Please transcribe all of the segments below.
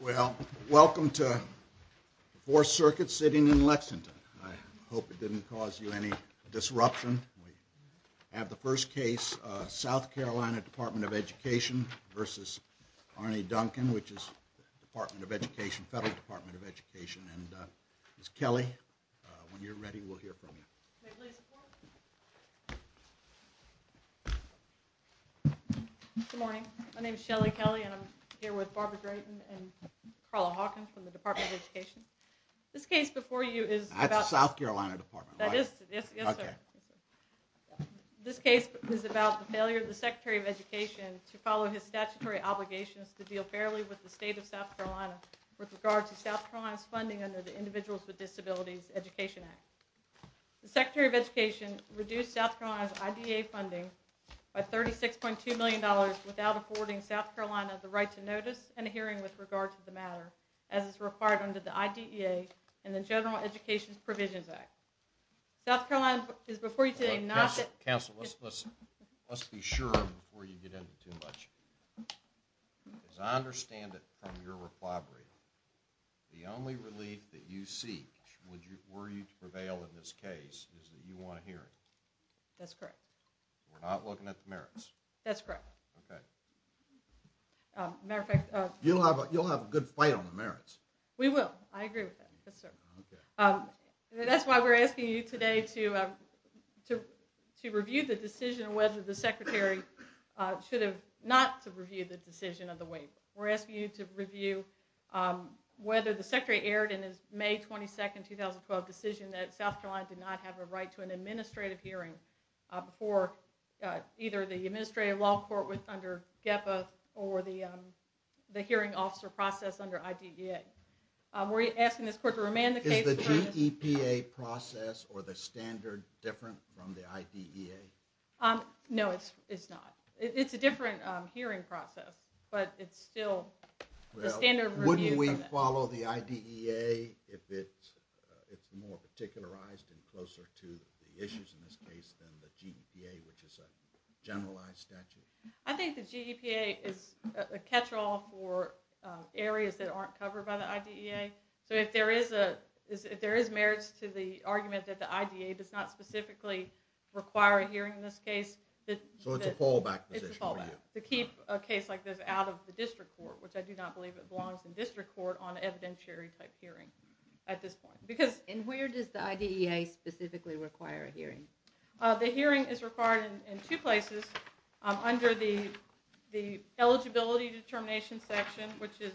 Well, welcome to the 4th Circuit sitting in Lexington. I hope it didn't cause you any disruption. We have the first case, South Carolina Department of Education v. Arne Duncan, which is the Department of Education, Federal Department of Education. And Ms. Kelly, when you're ready, we'll hear from you. Good morning. My name is Shelley Kelly and I'm here with Barbara Drayton and Carla Hawkins from the Department of Education. This case before you is about... That's the South Carolina Department, right? That is. Yes, sir. Okay. This case is about the failure of the Secretary of Education to follow his statutory obligations to deal fairly with the state of South Carolina with regard to South Carolina's funding under the Individuals with Disabilities Education Act. The Secretary of Education reduced South Carolina's IDEA funding by $36.2 million without affording South Carolina the right to notice and a hearing with regard to the matter as is required under the IDEA and the General Education Provisions Act. South Carolina is before you today not... Counsel, let's be sure before you get into too much. As I understand it from your reply brief, the only relief that you seek were you to prevail in this case is that you want a hearing. That's correct. We're not looking at the merits? That's correct. Okay. As a matter of fact... You'll have a good fight on the merits. We will. I agree with that. Yes, sir. Okay. That's why we're asking you today to review the decision whether the Secretary should have not reviewed the decision of the waiver. We're asking you to review whether the Secretary erred in his May 22, 2012 decision that South Carolina did not have a right to an administrative hearing before either the Administrative Law Court under GEPA or the hearing officer process under IDEA. We're asking this court to remand the case... Is the GEPA process or the standard different from the IDEA? No, it's not. It's a different hearing process, but it's still the standard review process. Wouldn't we follow the IDEA if it's more particularized and closer to the issues in this case than the GEPA, which is a generalized statute? I think the GEPA is a catch-all for areas that aren't covered by the IDEA. So if there is merits to the argument that the IDEA does not specifically require a hearing in this case... So it's a fallback position for you? It's a fallback to keep a case like this out of the district court, which I do not believe it belongs in district court on an evidentiary-type hearing at this point. And where does the IDEA specifically require a hearing? The hearing is required in two places. Under the Eligibility Determination Section, which is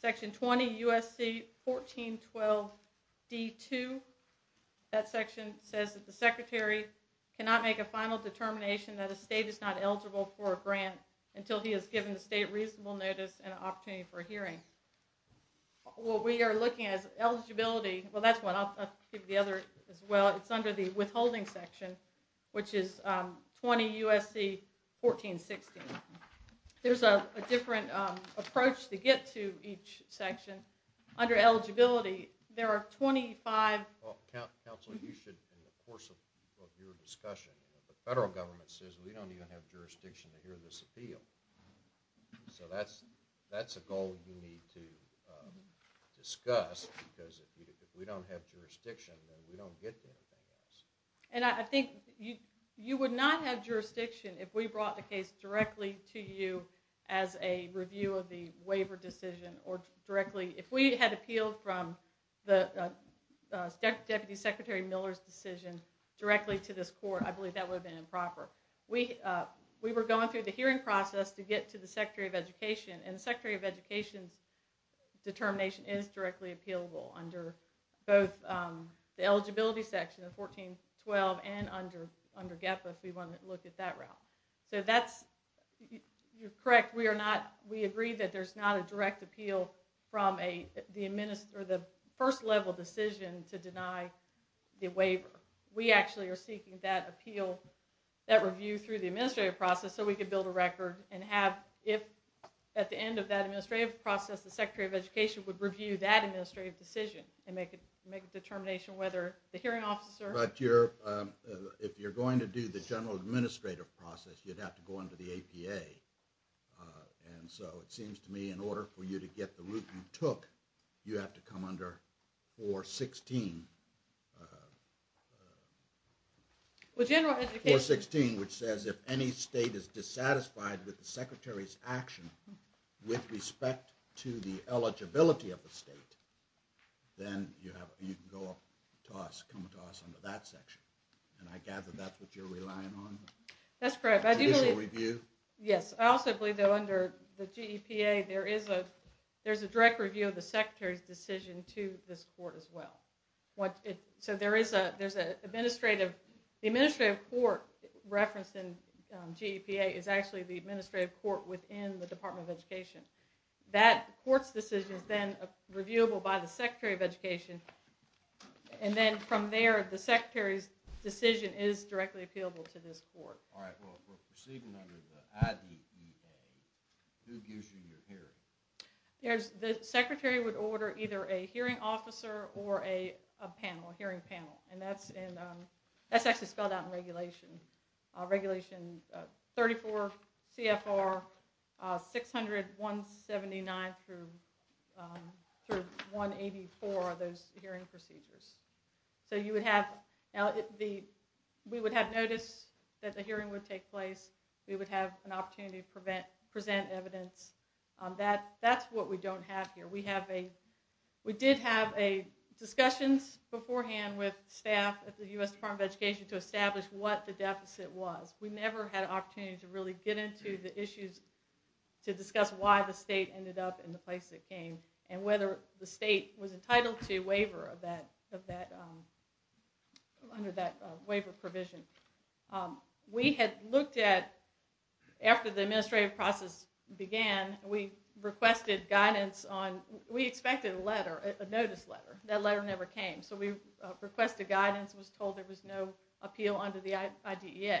Section 20 U.S.C. 1412 D.2. That section says that the secretary cannot make a final determination that a state is not eligible for a grant until he has given the state reasonable notice and an opportunity for a hearing. Well, we are looking at eligibility... Well, that's one. I'll give you the other as well. It's under the Withholding Section, which is 20 U.S.C. 1416. There's a different approach to get to each section. Under Eligibility, there are 25... Well, counsel, you should, in the course of your discussion, the federal government says we don't even have jurisdiction to hear this appeal. So that's a goal you need to discuss, because if we don't have jurisdiction, then we don't get to anything else. And I think you would not have jurisdiction if we brought the case directly to you as a review of the waiver decision or directly... If we had appealed from the Deputy Secretary Miller's decision directly to this court, I believe that would have been improper. We were going through the hearing process to get to the Secretary of Education, and the Secretary of Education's determination is directly appealable under both the Eligibility Section, the 1412, and under GEPA, if we want to look at that route. So that's... You're correct. We agree that there's not a direct appeal from the first-level decision to deny the waiver. We actually are seeking that appeal, that review through the administrative process so we can build a record and have... If, at the end of that administrative process, the Secretary of Education would review that administrative decision and make a determination whether the hearing officer... But if you're going to do the general administrative process, you'd have to go under the APA. And so it seems to me, in order for you to get the route you took, you have to come under 416. 416, which says if any state is dissatisfied with the Secretary's action with respect to the eligibility of the state, then you can come to us under that section. And I gather that's what you're relying on? That's correct. I do believe... Additional review? Yes. I also believe, though, under the GEPA, there is a direct review of the Secretary's decision to this court as well. So there is an administrative... The administrative court referenced in GEPA is actually the administrative court within the Department of Education. That court's decision is then reviewable by the Secretary of Education, and then from there, the Secretary's decision is directly appealable to this court. Alright. Well, if we're proceeding under the ADEPA, who gives you your hearing? The Secretary would order either a hearing officer or a panel, a hearing panel. That's actually spelled out in regulation. Regulation 34 CFR 600.179 through 184 are those hearing procedures. So you would have... We would have notice that the hearing would take place. We would have an opportunity to present evidence. That's what we don't have here. We did have discussions beforehand with staff at the U.S. Department of Education to establish what the deficit was. We never had an opportunity to really get into the issues to discuss why the state ended up in the place it came, and whether the state was entitled to a waiver under that waiver provision. We had looked at... After the administrative process began, we requested guidance on... We expected a letter, a notice letter. That letter never came, so we requested guidance and was told there was no appeal under the IDEA.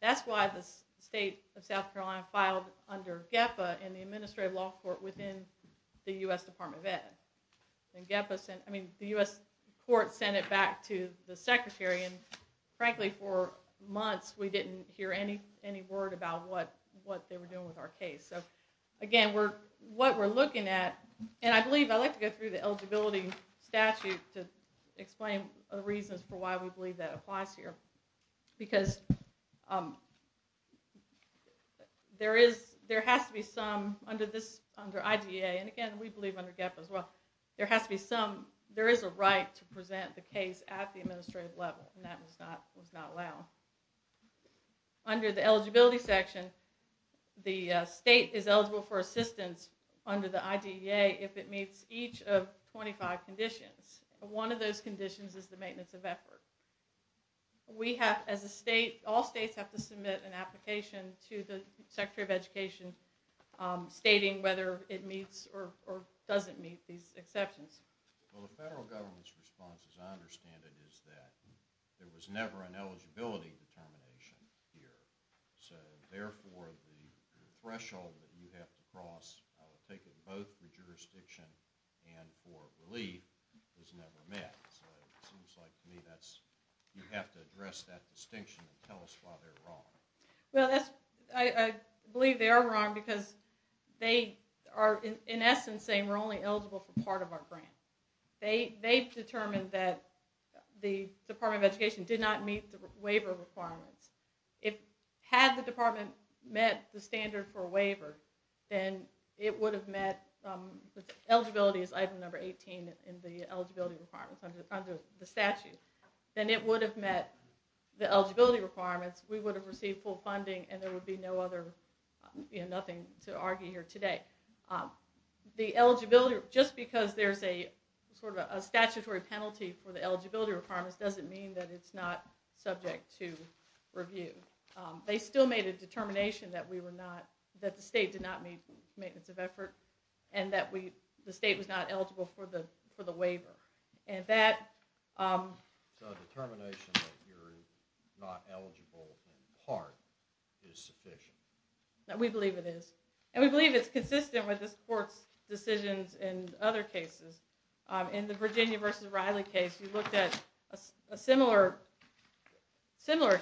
That's why the state of South Carolina filed under GEPA in the administrative law court within the U.S. Department of Ed. The U.S. court sent it back to the secretary. Frankly, for months, we didn't hear any word about what they were doing with our case. Again, what we're looking at... I believe I like to go through the eligibility statute to explain the reasons for why we believe that applies here. There has to be some... Under IDEA, and again, we believe under GEPA as well, there has to be some... There is a right to present the case at the administrative level. That was not allowed. Under the eligibility section, the state is eligible for assistance under the IDEA if it meets each of 25 conditions. One of those conditions is the maintenance of effort. We have, as a state, all states have to submit an application to the secretary of education stating whether it meets or doesn't meet these exceptions. Well, the federal government's response, as I understand it, is that there was never an eligibility determination here. So, therefore, the threshold that you have to cross, I would take it both for jurisdiction and for relief, is never met. So, it seems like to me that you have to address that distinction and tell us why they're wrong. Well, I believe they are wrong because they are, in essence, saying we're only eligible for part of our grant. They determined that the Department of Education did not meet the waiver requirements. Had the department met the standard for waiver, then it would have met... Eligibility is item number 18 in the eligibility requirements under the statute. Then it would have met the eligibility requirements, we would have received full funding, and there would be nothing to argue here today. Just because there's a statutory penalty for the eligibility requirements doesn't mean that it's not subject to review. They still made a determination that the state did not meet maintenance of effort and that the state was not eligible for the waiver. So, the determination that you're not eligible in part is sufficient? We believe it is, and we believe it's consistent with this court's decisions in other cases. In the Virginia v. Riley case, we looked at a similar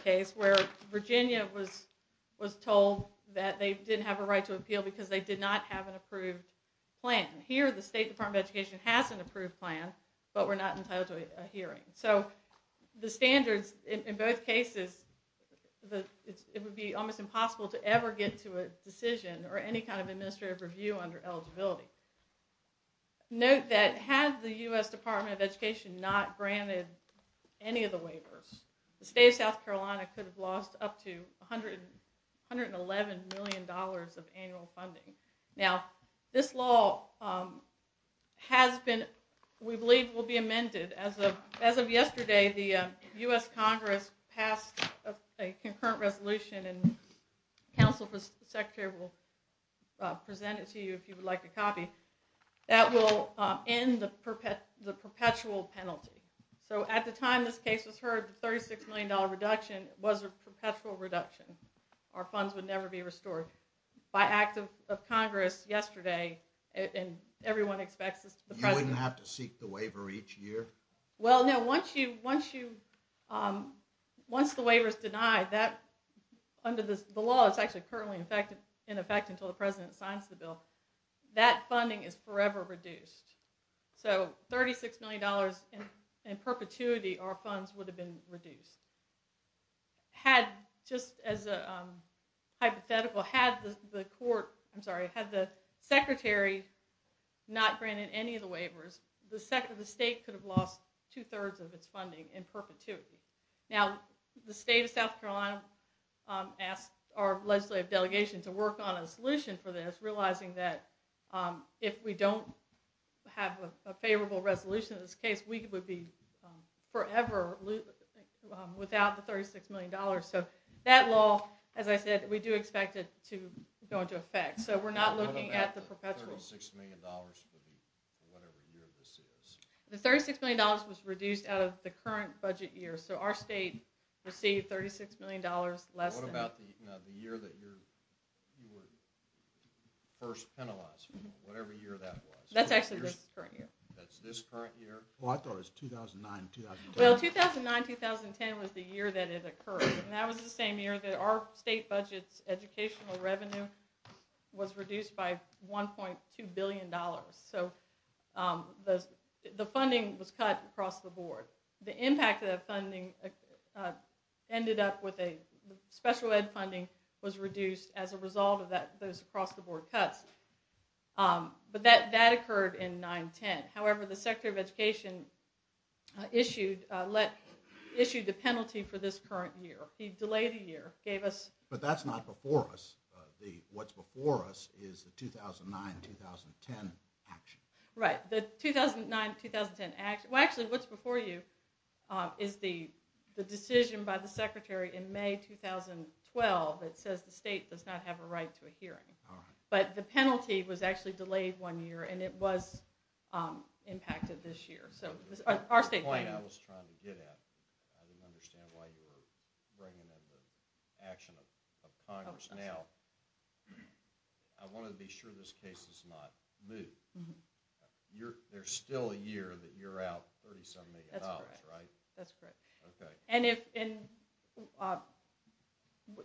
case where Virginia was told that they didn't have a right to appeal because they did not have an approved plan. Here, the State Department of Education has an approved plan, but we're not entitled to a hearing. So, the standards in both cases, it would be almost impossible to ever get to a decision or any kind of administrative review under eligibility. Note that had the U.S. Department of Education not granted any of the waivers, the state of South Carolina could have lost up to $111 million of annual funding. Now, this law, we believe, will be amended. As of yesterday, the U.S. Congress passed a concurrent resolution, and the Counsel for the Secretary will present it to you if you would like a copy, that will end the perpetual penalty. So, at the time this case was heard, the $36 million reduction was a perpetual reduction. Our funds would never be restored. By act of Congress yesterday, and everyone expects this to the President. You wouldn't have to seek the waiver each year? Well, no. Once the waiver is denied, under the law, it's actually currently in effect until the President signs the bill. That funding is forever reduced. So, $36 million in perpetuity, our funds would have been reduced. Just as a hypothetical, had the Secretary not granted any of the waivers, the state could have lost two-thirds of its funding in perpetuity. Now, the state of South Carolina asked our legislative delegation to work on a solution for this, realizing that if we don't have a favorable resolution in this case, we would be forever without the $36 million. So, that law, as I said, we do expect it to go into effect. So, we're not looking at the perpetual. What about the $36 million for whatever year this is? The $36 million was reduced out of the current budget year, so our state received $36 million less than that. Now, the year that you were first penalized, whatever year that was. That's actually this current year. That's this current year? Well, I thought it was 2009-2010. Well, 2009-2010 was the year that it occurred, and that was the same year that our state budget's educational revenue was reduced by $1.2 billion. So, the funding was cut across the board. The impact of the funding ended up with a special ed funding was reduced as a result of those across-the-board cuts, but that occurred in 9-10. However, the Secretary of Education issued the penalty for this current year. He delayed a year, gave us— But that's not before us. What's before us is the 2009-2010 action. Right. Well, actually, what's before you is the decision by the Secretary in May 2012 that says the state does not have a right to a hearing. All right. But the penalty was actually delayed one year, and it was impacted this year. The point I was trying to get at—I didn't understand why you were bringing in the action of Congress now. I wanted to be sure this case is not moved. There's still a year that you're out $30-something million, right? That's correct. Okay. And if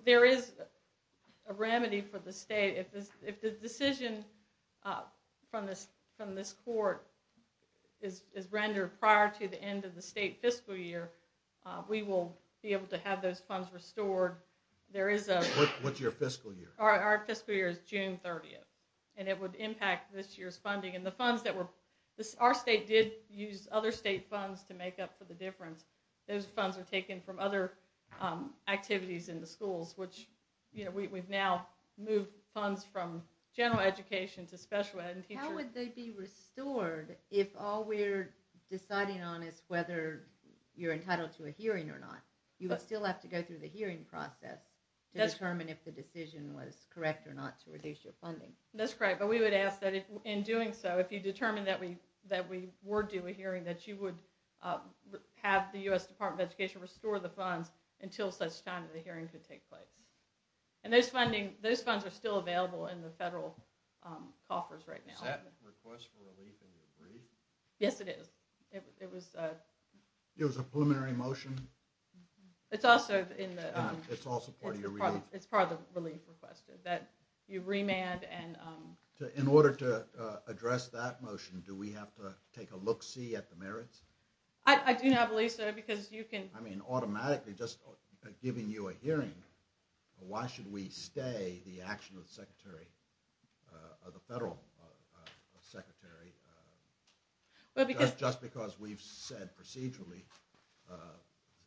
there is a remedy for the state, if the decision from this court is rendered prior to the end of the state fiscal year, we will be able to have those funds restored. What's your fiscal year? Our fiscal year is June 30th, and it would impact this year's funding. And the funds that were—our state did use other state funds to make up for the difference. Those funds were taken from other activities in the schools, which we've now moved funds from general education to special ed. How would they be restored if all we're deciding on is whether you're entitled to a hearing or not? You would still have to go through the hearing process to determine if the decision was correct or not to reduce your funding. That's correct. But we would ask that in doing so, if you determine that we were due a hearing, that you would have the U.S. Department of Education restore the funds until such time as the hearing could take place. And those funds are still available in the federal coffers right now. Is that a request for relief in your brief? Yes, it is. It was a preliminary motion? It's also part of the relief request, that you remand and— In order to address that motion, do we have to take a look-see at the merits? I do not believe so, because you can— I mean, automatically, just giving you a hearing, why should we stay the action of the federal secretary, just because we've said procedurally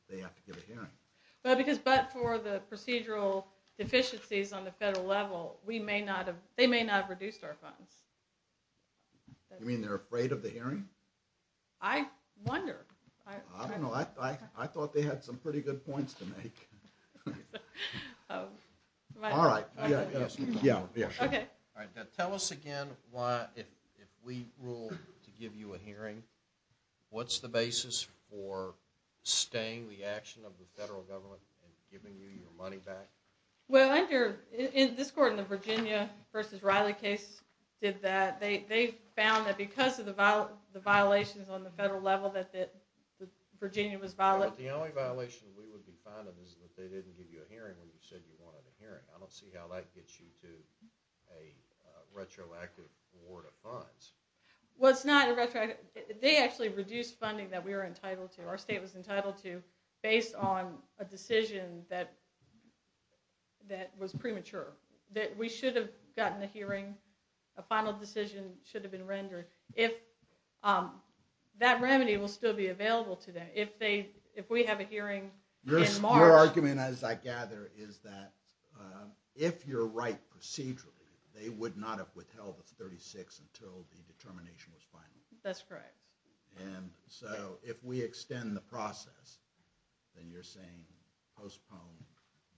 they have to give a hearing? But for the procedural deficiencies on the federal level, they may not have reduced our funds. You mean they're afraid of the hearing? I wonder. I don't know. I thought they had some pretty good points to make. All right. Tell us again why, if we rule to give you a hearing, what's the basis for staying the action of the federal government and giving you your money back? Well, this court in the Virginia v. Riley case did that. They found that because of the violations on the federal level that Virginia was— Well, the only violation we would be finding is that they didn't give you a hearing when you said you wanted a hearing. I don't see how that gets you to a retroactive award of funds. Well, it's not a retroactive— —that was premature, that we should have gotten a hearing, a final decision should have been rendered. That remedy will still be available to them. If we have a hearing in March— Your argument, as I gather, is that if you're right procedurally, they would not have withheld the 36 until the determination was final. That's correct. And so if we extend the process, then you're saying postpone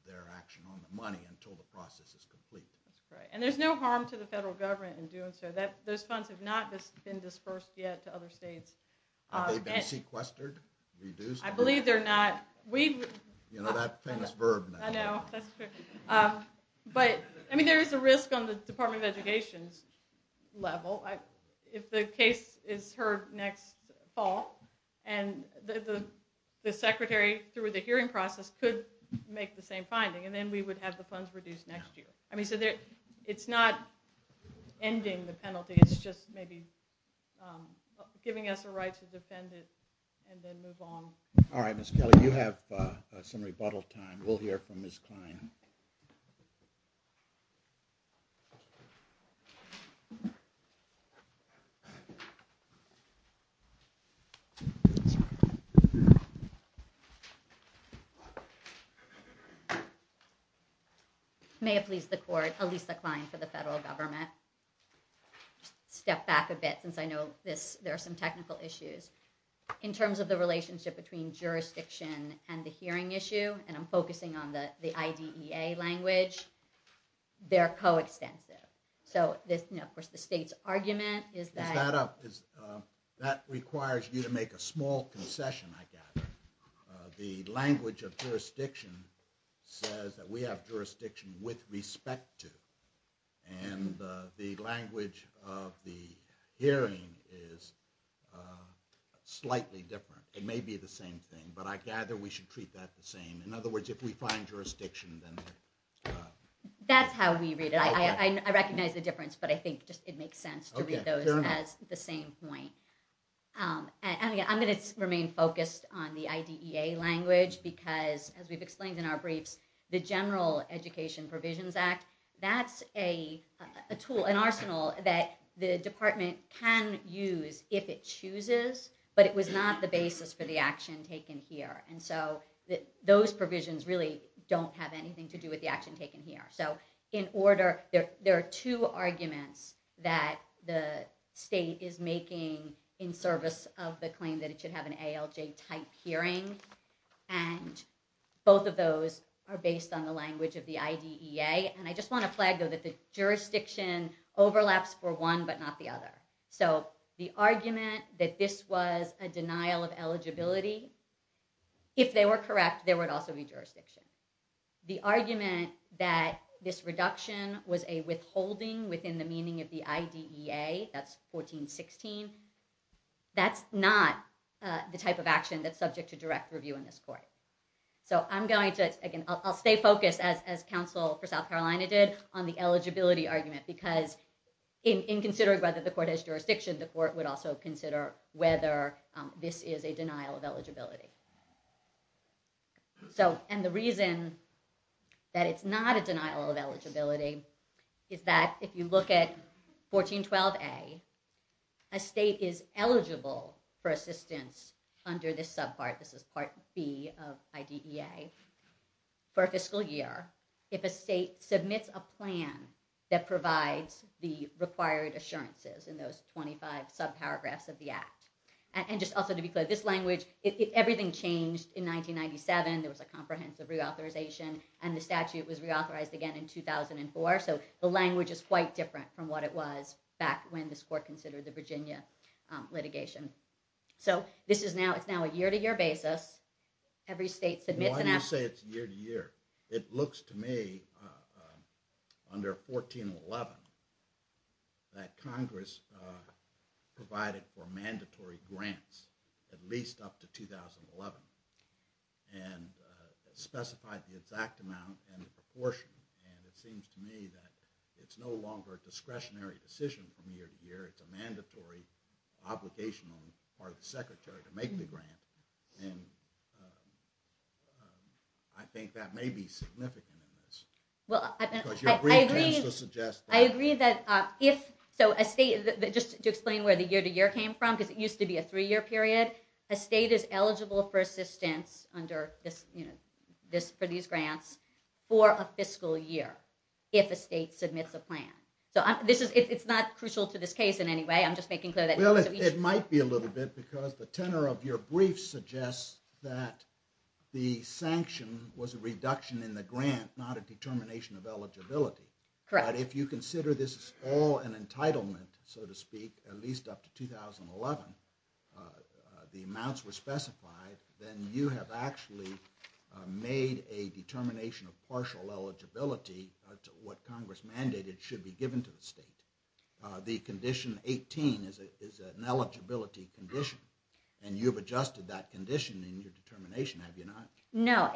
their action on the money until the process is complete. That's correct. And there's no harm to the federal government in doing so. Those funds have not been dispersed yet to other states. Have they been sequestered? Reduced? I believe they're not. You know that famous verb now. I know. That's true. But, I mean, there is a risk on the Department of Education's level. If the case is heard next fall, and the secretary, through the hearing process, could make the same finding, and then we would have the funds reduced next year. I mean, so it's not ending the penalty, it's just maybe giving us a right to defend it and then move on. All right, Ms. Kelly, you have some rebuttal time. We'll hear from Ms. Klein. May it please the court, Alisa Klein for the federal government. Step back a bit since I know there are some technical issues. In terms of the relationship between jurisdiction and the hearing issue, and I'm focusing on the IDEA language, they're coextensive. So, of course, the state's argument is that... Is that a... that requires you to make a small concession, I gather. The language of jurisdiction says that we have jurisdiction with respect to, and the language of the hearing is slightly different. It may be the same thing, but I gather we should treat that the same. In other words, if we find jurisdiction, then... That's how we read it. I recognize the difference, but I think it makes sense to read those as the same point. I'm going to remain focused on the IDEA language because, as we've explained in our briefs, the General Education Provisions Act, that's a tool, an arsenal that the department can use if it chooses, but it was not the basis for the action taken here. And so those provisions really don't have anything to do with the action taken here. So, in order... There are two arguments that the state is making in service of the claim that it should have an ALJ-type hearing, and both of those are based on the language of the IDEA, and I just want to flag, though, that the jurisdiction overlaps for one but not the other. So the argument that this was a denial of eligibility, if they were correct, there would also be jurisdiction. The argument that this reduction was a withholding within the meaning of the IDEA, that's 1416, that's not the type of action that's subject to direct review in this court. So I'm going to... Again, I'll stay focused, as counsel for South Carolina did, on the eligibility argument because in considering whether the court has jurisdiction, the court would also consider whether this is a denial of eligibility. So, and the reason that it's not a denial of eligibility is that if you look at 1412A, a state is eligible for assistance under this subpart, this is Part B of IDEA, for a fiscal year if a state submits a plan that provides the required assurances in those 25 subparagraphs of the Act. And just also to be clear, this language, everything changed in 1997, there was a comprehensive reauthorization, and the statute was reauthorized again in 2004, so the language is quite different from what it was back when this court considered the Virginia litigation. So this is now, it's now a year-to-year basis, every state submits an... Why do you say it's year-to-year? It looks to me, under 1411, that Congress provided for mandatory grants, at least up to 2011, and specified the exact amount and the proportion, and it seems to me that it's no longer a discretionary decision from year-to-year, it's a mandatory obligation on the part of the Secretary to make the grant, and I think that may be significant in this. Well, I agree, I agree that if, so a state, just to explain where the year-to-year came from, because it used to be a three-year period, a state is eligible for assistance under this, you know, for these grants for a fiscal year if a state submits a plan. So this is, it's not crucial to this case in any way, I'm just making clear that... Well, it might be a little bit, because the tenor of your brief suggests that the sanction was a reduction in the grant, not a determination of eligibility. Correct. But if you consider this all an entitlement, so to speak, at least up to 2011, the amounts were specified, then you have actually made a determination of partial eligibility to what Congress mandated should be given to the state. The condition 18 is an eligibility condition, and you've adjusted that condition in your determination, have you not? No,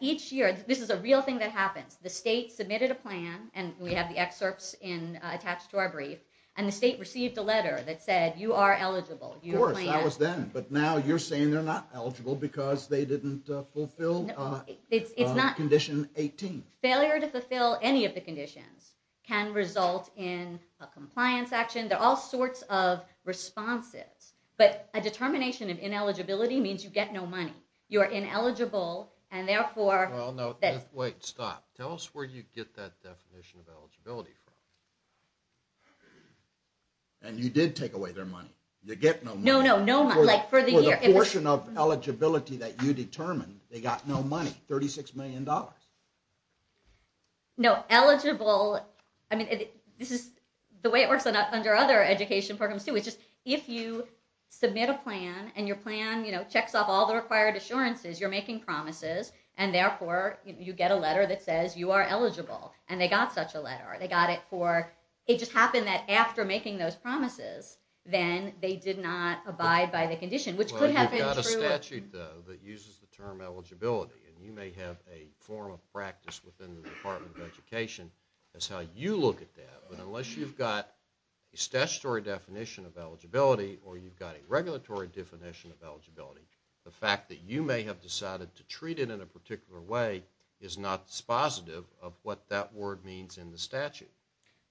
each year, this is a real thing that happens, the state submitted a plan, and we have the excerpts attached to our brief, and the state received a letter that said, you are eligible. Of course, that was then, but now you're saying they're not eligible because they didn't fulfill condition 18. Failure to fulfill any of the conditions can result in a compliance action. There are all sorts of responses, but a determination of ineligibility means you get no money. You are ineligible, and therefore... Wait, stop. Tell us where you get that definition of eligibility from. And you did take away their money. You get no money. No, no, no money. For the portion of eligibility that you determined, they got no money, $36 million. No, eligible... I mean, this is the way it works under other education programs, too. If you submit a plan, and your plan checks off all the required assurances, you're making promises, and therefore, you get a letter that says you are eligible, and they got such a letter. It just happened that after making those promises, then they did not abide by the condition, which could have been true... You've got a statute, though, that uses the term eligibility, and you may have a form of practice within the Department of Education as how you look at that, but unless you've got a statutory definition of eligibility, or you've got a regulatory definition of eligibility, the fact that you may have decided to treat it in a particular way is not dispositive of what that word means in the statute.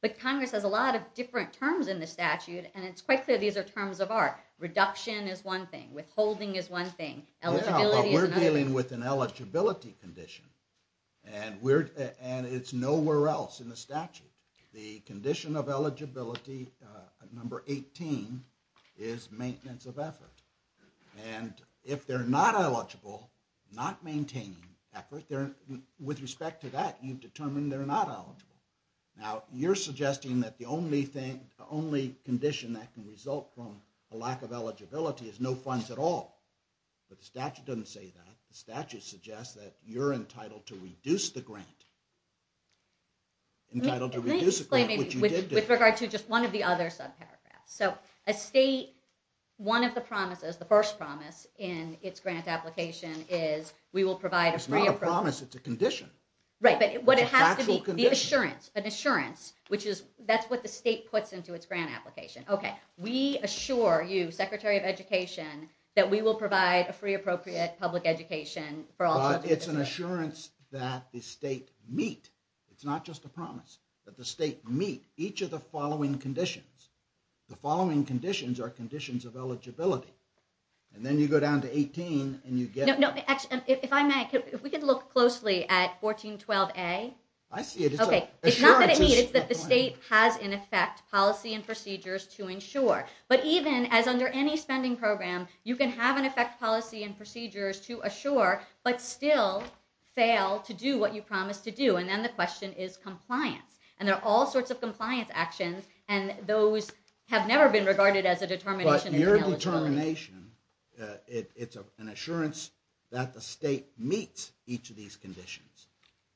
But Congress has a lot of different terms in the statute, and it's quite clear these are terms of art. Reduction is one thing. Withholding is one thing. Eligibility is another. We're dealing with an eligibility condition, and it's nowhere else in the statute. The condition of eligibility, number 18, is maintenance of effort. And if they're not eligible, not maintaining effort, with respect to that, you've determined they're not eligible. Now, you're suggesting that the only condition that can result from a lack of eligibility is no funds at all. But the statute doesn't say that. The statute suggests that you're entitled to reduce the grant. Entitled to reduce the grant, which you did do. With regard to just one of the other subparagraphs. So a state, one of the promises, the first promise in its grant application is we will provide a... It's not a promise, it's a condition. Right, but what it has to be, the assurance, an assurance, which is, that's what the state puts into its grant application. Okay, we assure you, Secretary of Education, that we will provide a free, appropriate public education for all... It's an assurance that the state meet. It's not just a promise, but the state meet each of the following conditions. The following conditions are conditions of eligibility. And then you go down to 18, and you get... If I may, if we could look closely at 1412A. I see it. It's not that it meet, it's that the state has in effect policy and procedures to ensure. But even as under any spending program, you can have in effect policy and procedures to assure, but still fail to do what you promised to do. And then the question is compliance. And there are all sorts of compliance actions, and those have never been regarded as a determination of eligibility. It's not a determination. It's an assurance that the state meets each of these conditions.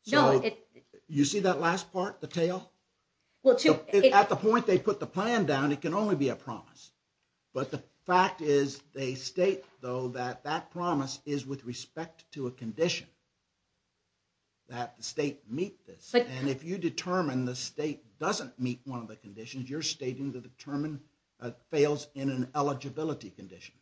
So, you see that last part, the tail? At the point they put the plan down, it can only be a promise. But the fact is, they state, though, that that promise is with respect to a condition, that the state meet this. And if you determine the state doesn't meet one of the conditions, you're stating that it fails in an eligibility condition.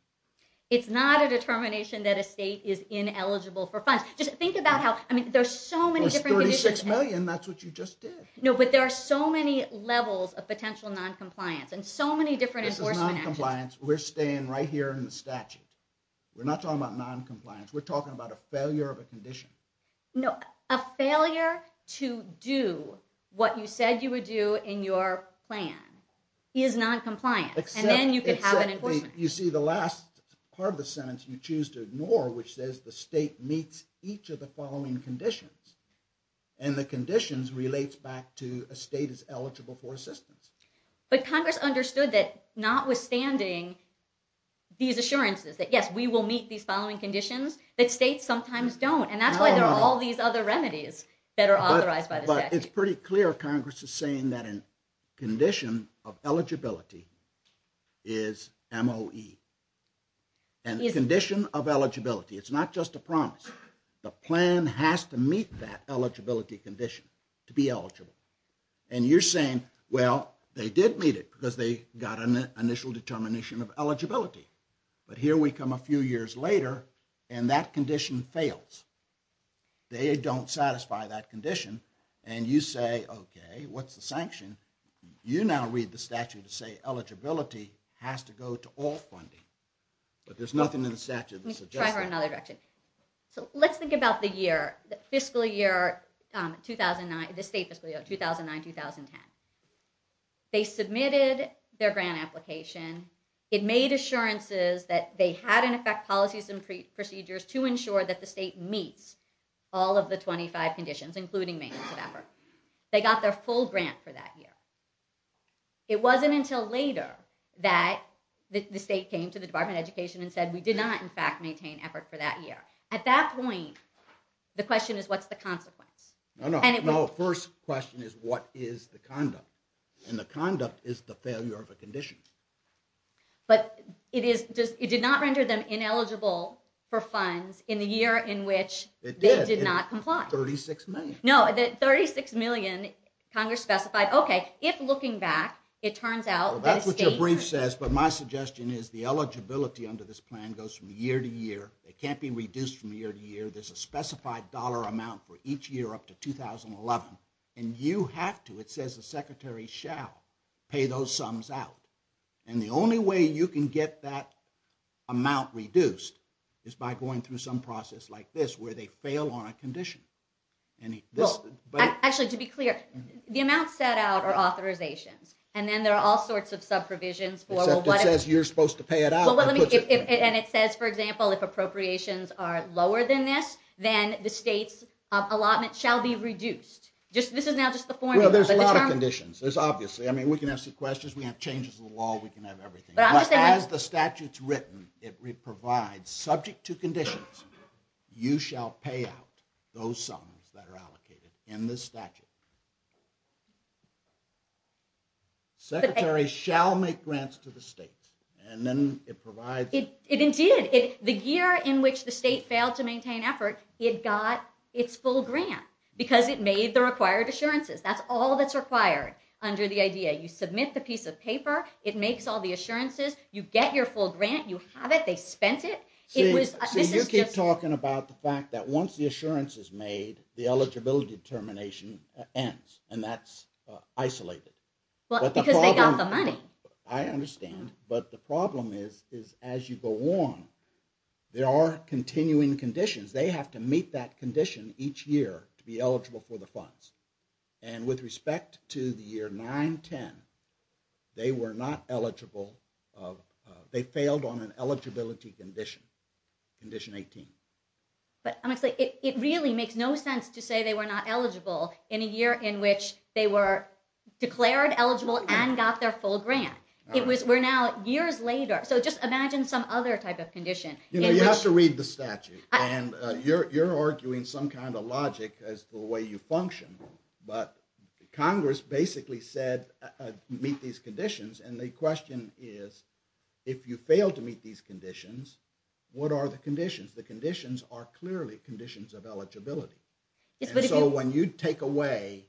It's not a determination that a state is ineligible for funds. Just think about how... There's 36 million, that's what you just did. No, but there are so many levels of potential noncompliance, and so many different enforcement actions. This is noncompliance. We're staying right here in the statute. We're not talking about noncompliance. We're talking about a failure of a condition. No, a failure to do what you said you would do in your plan is noncompliance, and then you could have an enforcement. You see, the last part of the sentence you choose to ignore, which says the state meets each of the following conditions, and the conditions relates back to a state is eligible for assistance. But Congress understood that, notwithstanding these assurances, that, yes, we will meet these following conditions, but states sometimes don't, and that's why there are all these other remedies that are authorized by the statute. But it's pretty clear Congress is saying that a condition of eligibility is MOE. And the condition of eligibility, it's not just a promise. The plan has to meet that eligibility condition to be eligible. And you're saying, well, they did meet it because they got an initial determination of eligibility. But here we come a few years later, and that condition fails. They don't satisfy that condition. And you say, okay, what's the sanction? You now read the statute to say eligibility has to go to all funding. But there's nothing in the statute that suggests that. Let me try to go in another direction. So let's think about the year, the fiscal year 2009, the state fiscal year 2009-2010. They submitted their grant application. It made assurances that they had in effect policies and procedures to ensure that the state meets all of the 25 conditions, including maintenance of effort. They got their full grant for that year. It wasn't until later that the state came to the Department of Education and said we did not, in fact, maintain effort for that year. At that point, the question is what's the consequence? No, no, no. First question is what is the conduct? And the conduct is the failure of a condition. But it did not render them ineligible for funds in the year in which they did not comply. 36 million. No, 36 million, Congress specified, okay, if looking back, it turns out that the state was. Well, that's what your brief says, but my suggestion is the eligibility under this plan goes from year to year. It can't be reduced from year to year. There's a specified dollar amount for each year up to 2011, and you have to. It says the secretary shall pay those sums out. And the only way you can get that amount reduced is by going through some process like this where they fail on a condition. Actually, to be clear, the amount set out are authorizations, and then there are all sorts of sub-provisions. Except it says you're supposed to pay it out. And it says, for example, if appropriations are lower than this, then the state's allotment shall be reduced. This is now just the formula. Well, there's a lot of conditions. There's obviously, I mean, we can have sequesters, we can have changes in the law, we can have everything. But as the statute's written, it provides subject to conditions, you shall pay out those sums that are allocated in this statute. Secretary shall make grants to the state. And then it provides. Indeed, the year in which the state failed to maintain effort, it got its full grant because it made the required assurances. That's all that's required under the idea. You submit the piece of paper, it makes all the assurances, you get your full grant, you have it, they spent it. See, you keep talking about the fact that once the assurance is made, the eligibility determination ends, and that's isolated. Because they got the money. I understand. But the problem is as you go on, there are continuing conditions. They have to meet that condition each year to be eligible for the funds. And with respect to the year 9-10, they were not eligible. They failed on an eligibility condition, condition 18. But honestly, it really makes no sense to say they were not eligible in a year in which they were declared eligible and got their full grant. It was, we're now years later. So just imagine some other type of condition. You know, you have to read the statute, and you're arguing some kind of logic as to the way you function. But Congress basically said meet these conditions, and the question is if you fail to meet these conditions, what are the conditions? The conditions are clearly conditions of eligibility. And so when you take away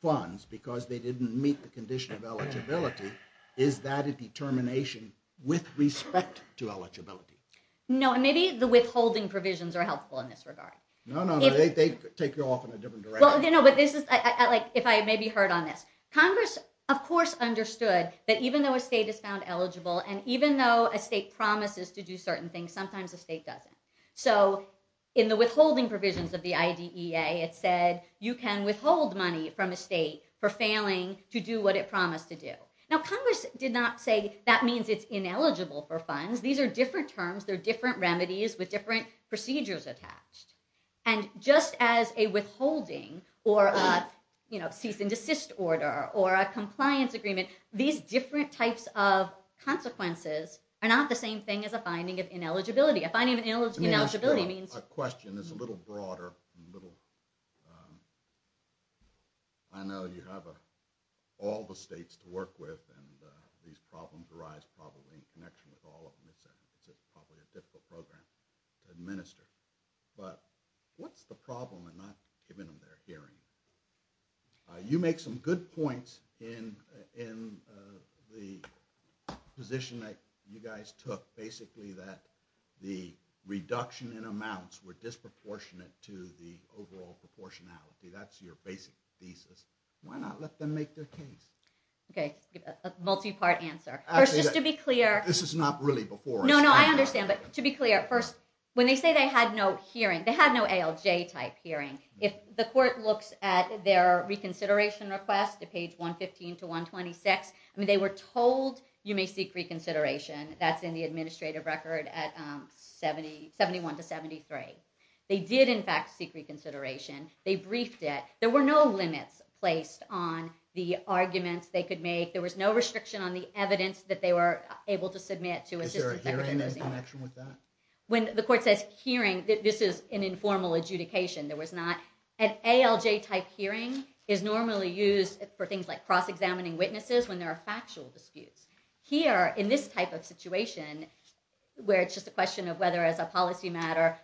funds because they didn't meet the condition of eligibility, is that a determination with respect to eligibility? No, and maybe the withholding provisions are helpful in this regard. No, no, they take you off in a different direction. Well, no, but this is, like if I maybe heard on this. Congress, of course, understood that even though a state is found eligible and even though a state promises to do certain things, sometimes a state doesn't. So in the withholding provisions of the IDEA, it said you can withhold money from a state for failing to do what it promised to do. Now, Congress did not say that means it's ineligible for funds. These are different terms. They're different remedies with different procedures attached. And just as a withholding or a cease and desist order or a compliance agreement, these different types of consequences are not the same thing as a finding of ineligibility. A finding of ineligibility means… And this is a little broader. I know you have all the states to work with, and these problems arise probably in connection with all of them. It's probably a difficult program to administer. But what's the problem in not giving them their hearing? You make some good points in the position that you guys took, basically that the reduction in amounts were disproportionate to the overall proportionality. That's your basic thesis. Why not let them make their case? Okay, a multi-part answer. First, just to be clear… This is not really before us. No, no, I understand. But to be clear, first, when they say they had no hearing, they had no ALJ-type hearing. If the court looks at their reconsideration request at page 115 to 126, I mean, they were told you may seek reconsideration. That's in the administrative record at 71 to 73. They did, in fact, seek reconsideration. They briefed it. There were no limits placed on the arguments they could make. There was no restriction on the evidence that they were able to submit to Assistant Secretary Mazzini. Is there a hearing in connection with that? When the court says hearing, this is an informal adjudication. There was not… An ALJ-type hearing is normally used for things like cross-examining witnesses when there are factual disputes. Here, in this type of situation, where it's just a question of whether, as a policy matter,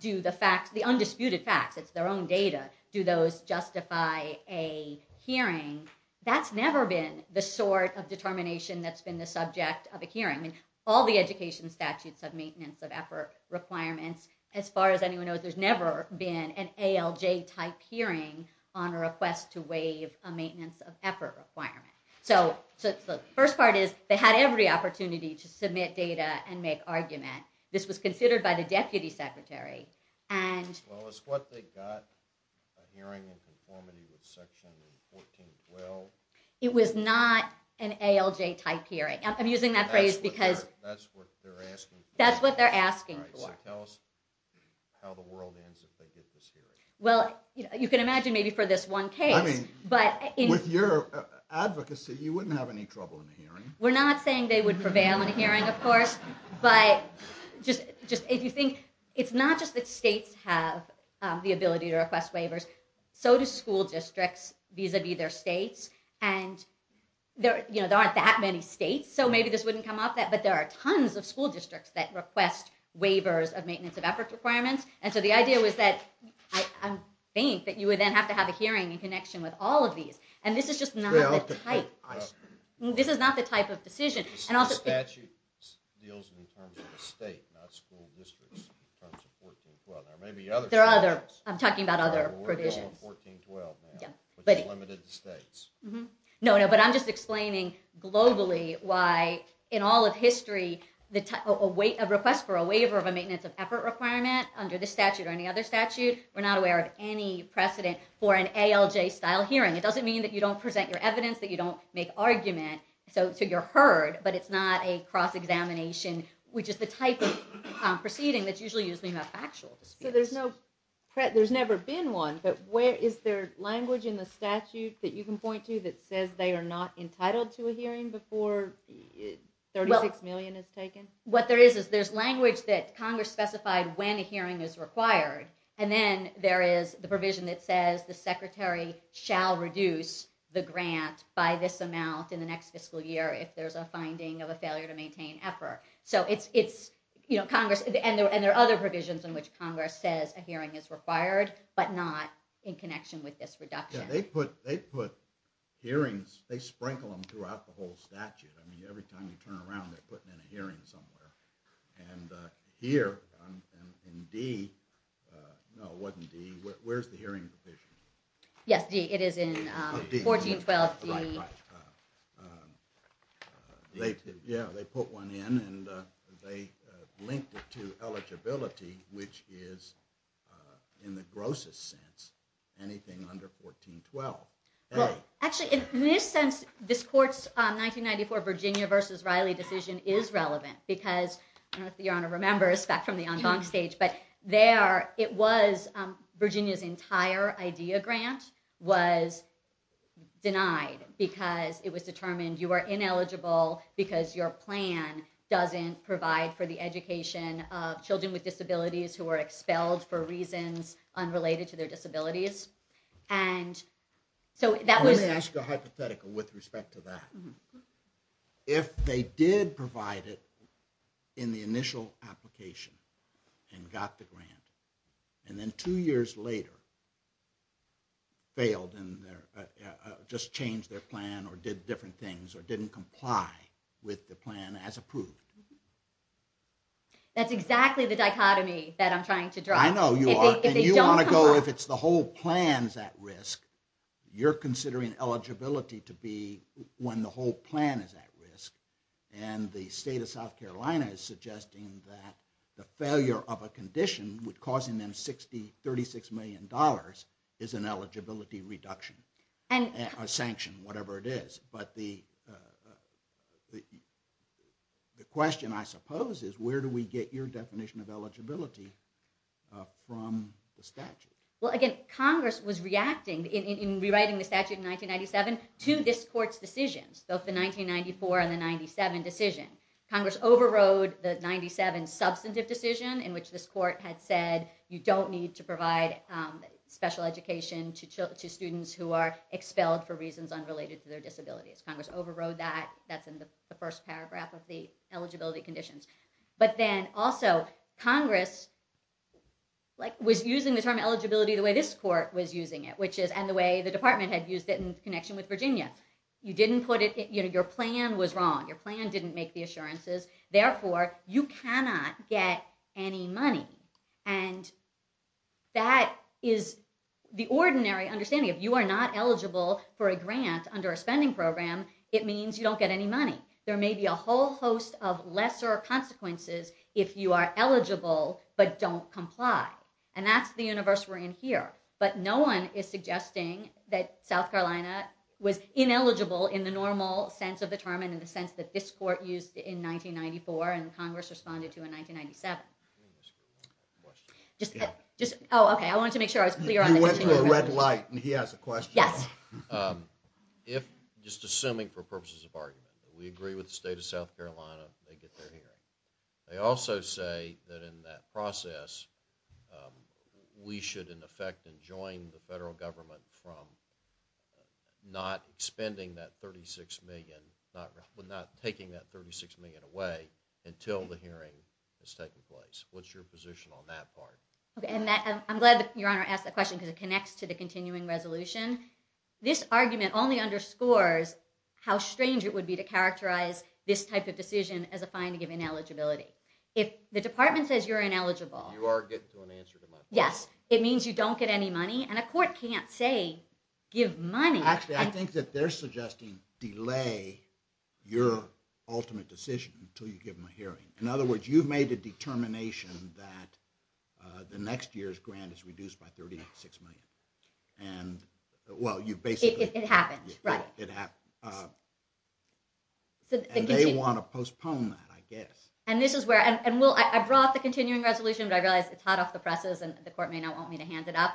do the facts, the undisputed facts, it's their own data, do those justify a hearing? That's never been the sort of determination that's been the subject of a hearing. I mean, all the education statutes of maintenance of effort requirements, as far as anyone knows, there's never been an ALJ-type hearing on a request to waive a maintenance of effort requirement. The first part is they had every opportunity to submit data and make argument. This was considered by the Deputy Secretary. Well, is what they got, a hearing in conformity with Section 1412? It was not an ALJ-type hearing. I'm using that phrase because… That's what they're asking for. That's what they're asking for. All right, so tell us how the world ends if they get this hearing. Well, you can imagine maybe for this one case. I mean, with your advocacy, you wouldn't have any trouble in a hearing. We're not saying they would prevail in a hearing, of course. But if you think, it's not just that states have the ability to request waivers, so do school districts vis-a-vis their states. And there aren't that many states, so maybe this wouldn't come up, but there are tons of school districts that request waivers of maintenance of effort requirements. And so the idea was that I think that you would then have to have a hearing in connection with all of these. And this is just not the type of… This is not the type of decision. The statute deals in terms of the state, not school districts, in terms of 1412. There may be other statutes… There are other, I'm talking about other provisions. …that are working on 1412 now, but they're limited to states. No, no, but I'm just explaining globally why, in all of history, a request for a waiver of a maintenance of effort requirement under this statute or any other statute, we're not aware of any precedent for an ALJ-style hearing. It doesn't mean that you don't present your evidence, that you don't make argument, so you're heard, but it's not a cross-examination, which is the type of proceeding that's usually used in a factual dispute. So there's never been one, but is there language in the statute that you can point to that says they are not entitled to a hearing before $36 million is taken? What there is is there's language that Congress specified when a hearing is required, and then there is the provision that says the secretary shall reduce the grant by this amount in the next fiscal year if there's a finding of a failure to maintain effort. So it's Congress… And there are other provisions in which Congress says a hearing is required, but not in connection with this reduction. Yeah, they put hearings… They sprinkle them throughout the whole statute. I mean, every time you turn around, they're putting in a hearing somewhere. And here in D… No, it wasn't D. Where's the hearing provision? Yes, D. It is in 1412 D. Yeah, they put one in, and they linked it to eligibility, which is, in the grossest sense, anything under 1412. Actually, in this sense, this court's 1994 Virginia v. Riley decision is relevant because I don't know if the Honor remembers back from the en banc stage, but there it was Virginia's entire IDEA grant was denied because it was determined you are ineligible because your plan doesn't provide for the education of children with disabilities who are expelled for reasons unrelated to their disabilities. And so that was… Let me ask a hypothetical with respect to that. If they did provide it in the initial application and got the grant, and then two years later failed and just changed their plan or did different things or didn't comply with the plan as approved… That's exactly the dichotomy that I'm trying to draw. I know you are. If they don't comply… And you want to go, if the whole plan's at risk, you're considering eligibility to be when the whole plan is at risk, and the state of South Carolina is suggesting that the failure of a condition causing them $36 million is an eligibility reduction or sanction, whatever it is. But the question, I suppose, is where do we get your definition of eligibility from the statute? Well, again, Congress was reacting in rewriting the statute in 1997 to this court's decisions, both the 1994 and the 97 decision. Congress overrode the 97 substantive decision in which this court had said you don't need to provide special education to students who are expelled for reasons unrelated to their disabilities. Congress overrode that. That's in the first paragraph of the eligibility conditions. But then, also, Congress was using the term eligibility the way this court was using it, and the way the department had used it in connection with Virginia. You didn't put it… Your plan was wrong. Your plan didn't make the assurances. Therefore, you cannot get any money. And that is the ordinary understanding. If you are not eligible for a grant under a spending program, it means you don't get any money. There may be a whole host of lesser consequences if you are eligible but don't comply. And that's the universe we're in here. But no one is suggesting that South Carolina was ineligible in the normal sense of the term and in the sense that this court used in 1994 and Congress responded to in 1997. Just… Oh, okay, I wanted to make sure I was clear on… You went to a red light, and he has a question. Yes. If, just assuming for purposes of argument, we agree with the state of South Carolina, they get their hearing. They also say that in that process, we should in effect enjoin the federal government from not spending that $36 million, not taking that $36 million away until the hearing has taken place. What's your position on that part? I'm glad that Your Honor asked that question because it connects to the continuing resolution. This argument only underscores how strange it would be to characterize this type of decision as a fine to give ineligibility. If the department says you're ineligible… You are getting to an answer to my question. Yes. It means you don't get any money, and a court can't say give money. Actually, I think that they're suggesting delay your ultimate decision until you give them a hearing. In other words, you've made a determination that the next year's grant is reduced by $36 million. Well, you've basically… It happened, right. They want to postpone that, I guess. I brought the continuing resolution, but I realize it's hot off the presses, and the court may not want me to hand it up.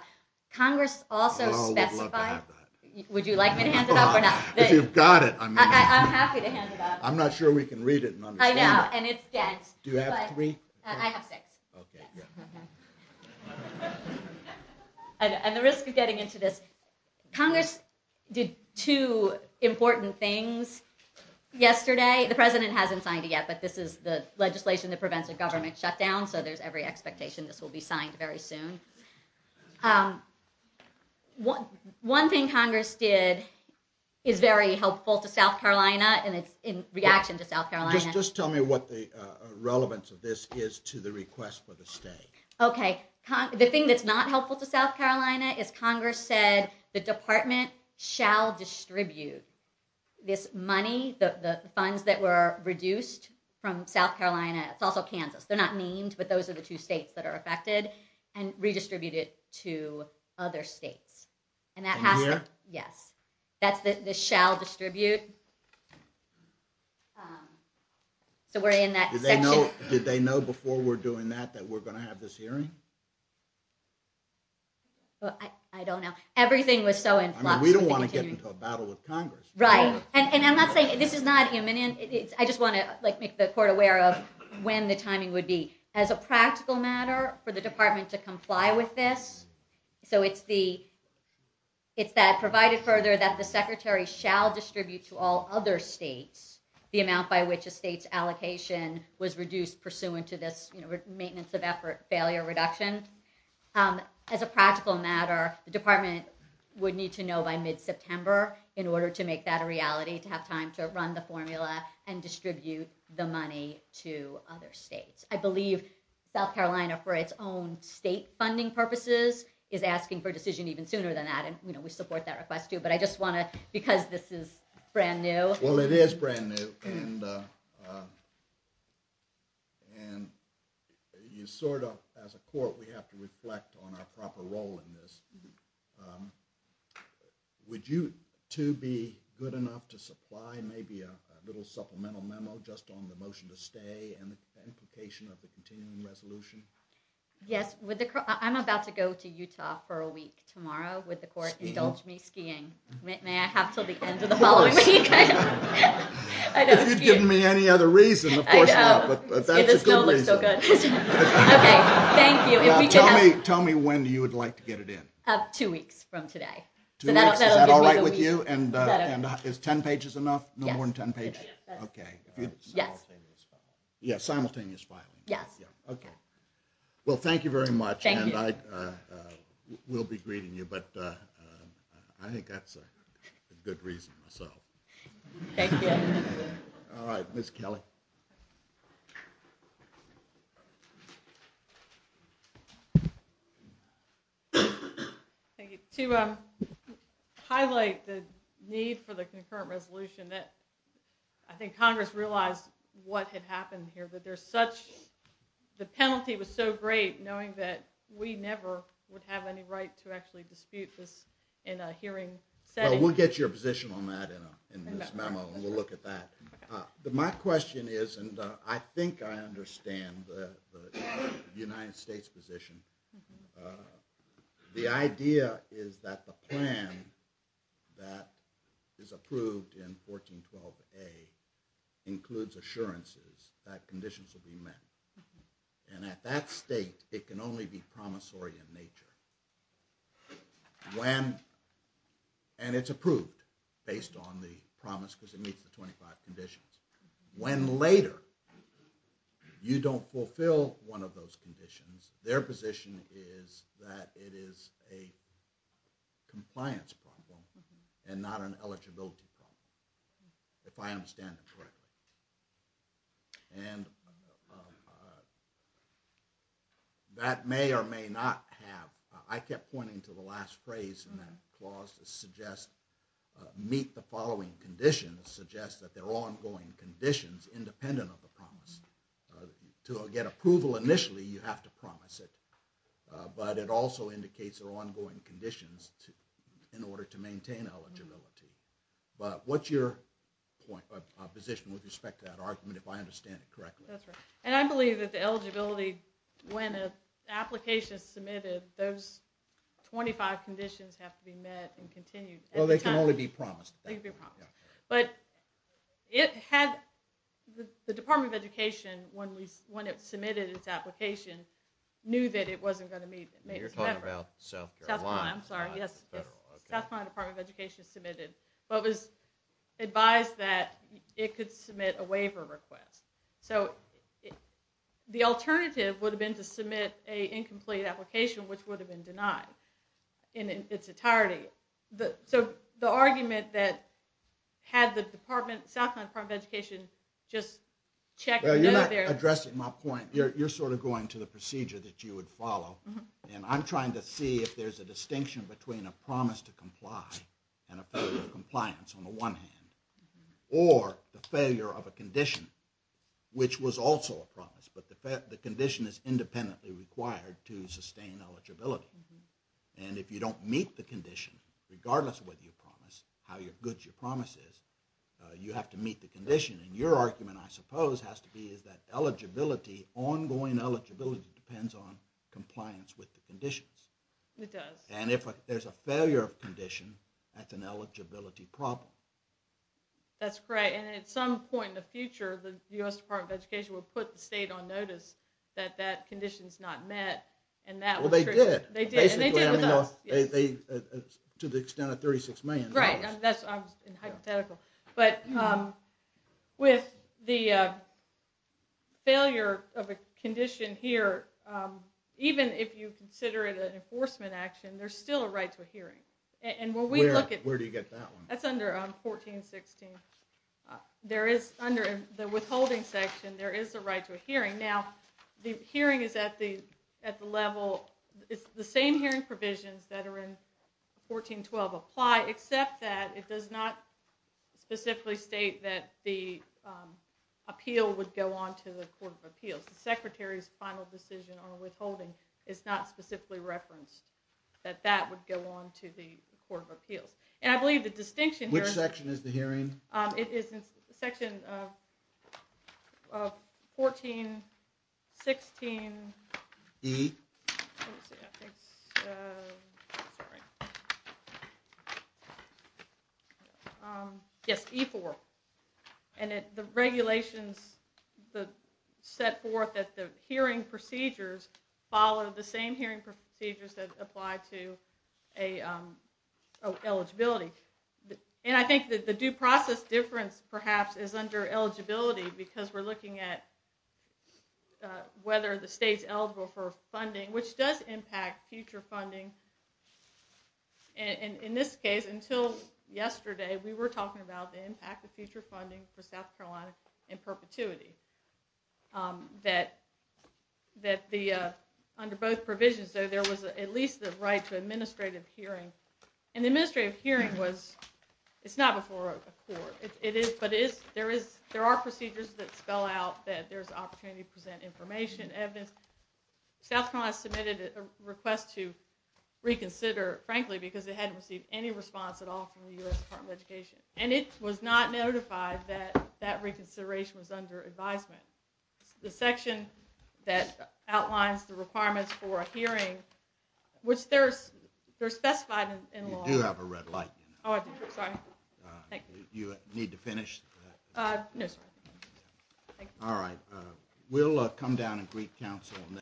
Congress also specified… Oh, we'd love to have that. Would you like me to hand it up or not? If you've got it, I mean… I'm happy to hand it up. I'm not sure we can read it and understand it. I know, and it's dense. Do you have three? I have six. Okay, good. And the risk of getting into this, Congress did two important things yesterday. The President hasn't signed it yet, but this is the legislation that prevents a government shutdown, so there's every expectation this will be signed very soon. One thing Congress did is very helpful to South Carolina, and it's in reaction to South Carolina. Just tell me what the relevance of this is to the request for the stay. Okay, the thing that's not helpful to South Carolina is Congress said the department shall distribute this money, the funds that were reduced from South Carolina. It's also Kansas. They're not named, but those are the two states that are affected, and redistribute it to other states. And that has to… In here? Yes. That's the shall distribute. So we're in that section. Did they know before we're doing that that we're going to have this hearing? I don't know. Everything was so in flux. I mean, we don't want to get into a battle with Congress. Right. And I'm not saying… This is not imminent. I just want to make the court aware of when the timing would be. As a practical matter, for the department to comply with this, so it's that provided further that the secretary shall distribute to all other states the amount by which a state's allocation was reduced pursuant to this maintenance of effort, failure reduction. As a practical matter, the department would need to know by mid-September in order to make that a reality, to have time to run the formula and distribute the money to other states. I believe South Carolina, for its own state funding purposes, is asking for a decision even sooner than that, and we support that request too. But I just want to… Because this is brand new. Well, it is brand new. And you sort of, as a court, we have to reflect on our proper role in this. Would you two be good enough to supply maybe a little supplemental memo just on the motion to stay and the implication of the continuing resolution? Yes. I'm about to go to Utah for a week tomorrow. Would the court indulge me skiing? May I have till the end of the following week? If you'd given me any other reason, of course not, but that's a good reason. This bill looks so good. Okay, thank you. Now, tell me when you would like to get it in. Two weeks from today. Two weeks? Is that all right with you? And is 10 pages enough? No more than 10 pages? Yes. Okay. Simultaneous filing. Yes, simultaneous filing. Yes. Okay. Well, thank you very much. Thank you. We'll be greeting you, but I think that's a good reason. Thank you. All right, Ms. Kelly. Thank you. To highlight the need for the concurrent resolution, I think Congress realized what had happened here, but the penalty was so great knowing that we never would have any right to actually dispute this in a hearing setting. We'll get your position on that in this memo, and we'll look at that. My question is, and I think I understand the United States' position. The idea is that the plan that is approved in 1412A includes assurances that conditions will be met, and at that state, it can only be promissory in nature. When, and it's approved based on the promise because it meets the 25 conditions. When later, you don't fulfill one of those conditions, their position is that it is a compliance problem and not an eligibility problem, if I understand it correctly. And that may or may not have, I kept pointing to the last phrase in that clause that suggests meet the following conditions, suggests that there are ongoing conditions independent of the promise. To get approval initially, you have to promise it, but it also indicates there are ongoing conditions in order to maintain eligibility. But what's your position with respect to that argument, if I understand it correctly? That's right. And I believe that the eligibility, when an application is submitted, those 25 conditions have to be met and continued. Well, they can only be promised. They can be promised. But it had, the Department of Education, when it submitted its application, knew that it wasn't going to meet. You're talking about South Carolina. I'm sorry, yes. South Carolina Department of Education submitted, but was advised that it could submit a waiver request. So the alternative would have been to submit an incomplete application, which would have been denied in its entirety. So the argument that had the Department, South Carolina Department of Education, just checked. Well, you're not addressing my point. You're sort of going to the procedure that you would follow. And I'm trying to see if there's a distinction between a promise to comply and a failure of compliance on the one hand, or the failure of a condition, which was also a promise, but the condition is independently required to sustain eligibility. And if you don't meet the condition, regardless of whether you promise, how good your promise is, you have to meet the condition. And your argument, I suppose, has to be is that eligibility, ongoing eligibility, depends on compliance with the conditions. It does. And if there's a failure of condition, that's an eligibility problem. That's correct. And at some point in the future, the U.S. Department of Education will put the state on notice that that condition's not met. Well, they did. And they did with us. To the extent of $36 million. Right. That's hypothetical. But with the failure of a condition here, even if you consider it an enforcement action, there's still a right to a hearing. Where do you get that one? That's under 1416. There is, under the withholding section, there is a right to a hearing. Now, the hearing is at the level, it's the same hearing provisions that are in 1412 apply, except that it does not specifically state that the appeal would go on to the Court of Appeals. The Secretary's final decision on withholding is not specifically referenced that that would go on to the Court of Appeals. And I believe the distinction here is... Which section is the hearing? It is section 1416... E? Let me see, I think it's... Sorry. Yes, E4. And the regulations, the set forth that the hearing procedures follow the same hearing procedures that apply to eligibility. And I think that the due process difference, perhaps, is under eligibility, because we're looking at whether the state's eligible for funding, which does impact future funding. In this case, until yesterday, we were talking about the impact of future funding for South Carolina in perpetuity. That under both provisions, though, there was at least the right to administrative hearing. And the administrative hearing was... It's not before a court. But there are procedures that spell out that there's opportunity to present information, evidence. South Carolina submitted a request to reconsider, frankly, because it hadn't received any response at all from the U.S. Department of Education. And it was not notified that that reconsideration was under advisement. The section that outlines the requirements for a hearing, which they're specified in law. You do have a red light. Oh, I do. Sorry. You need to finish? No, sir. All right. We'll come down and greet counsel on that.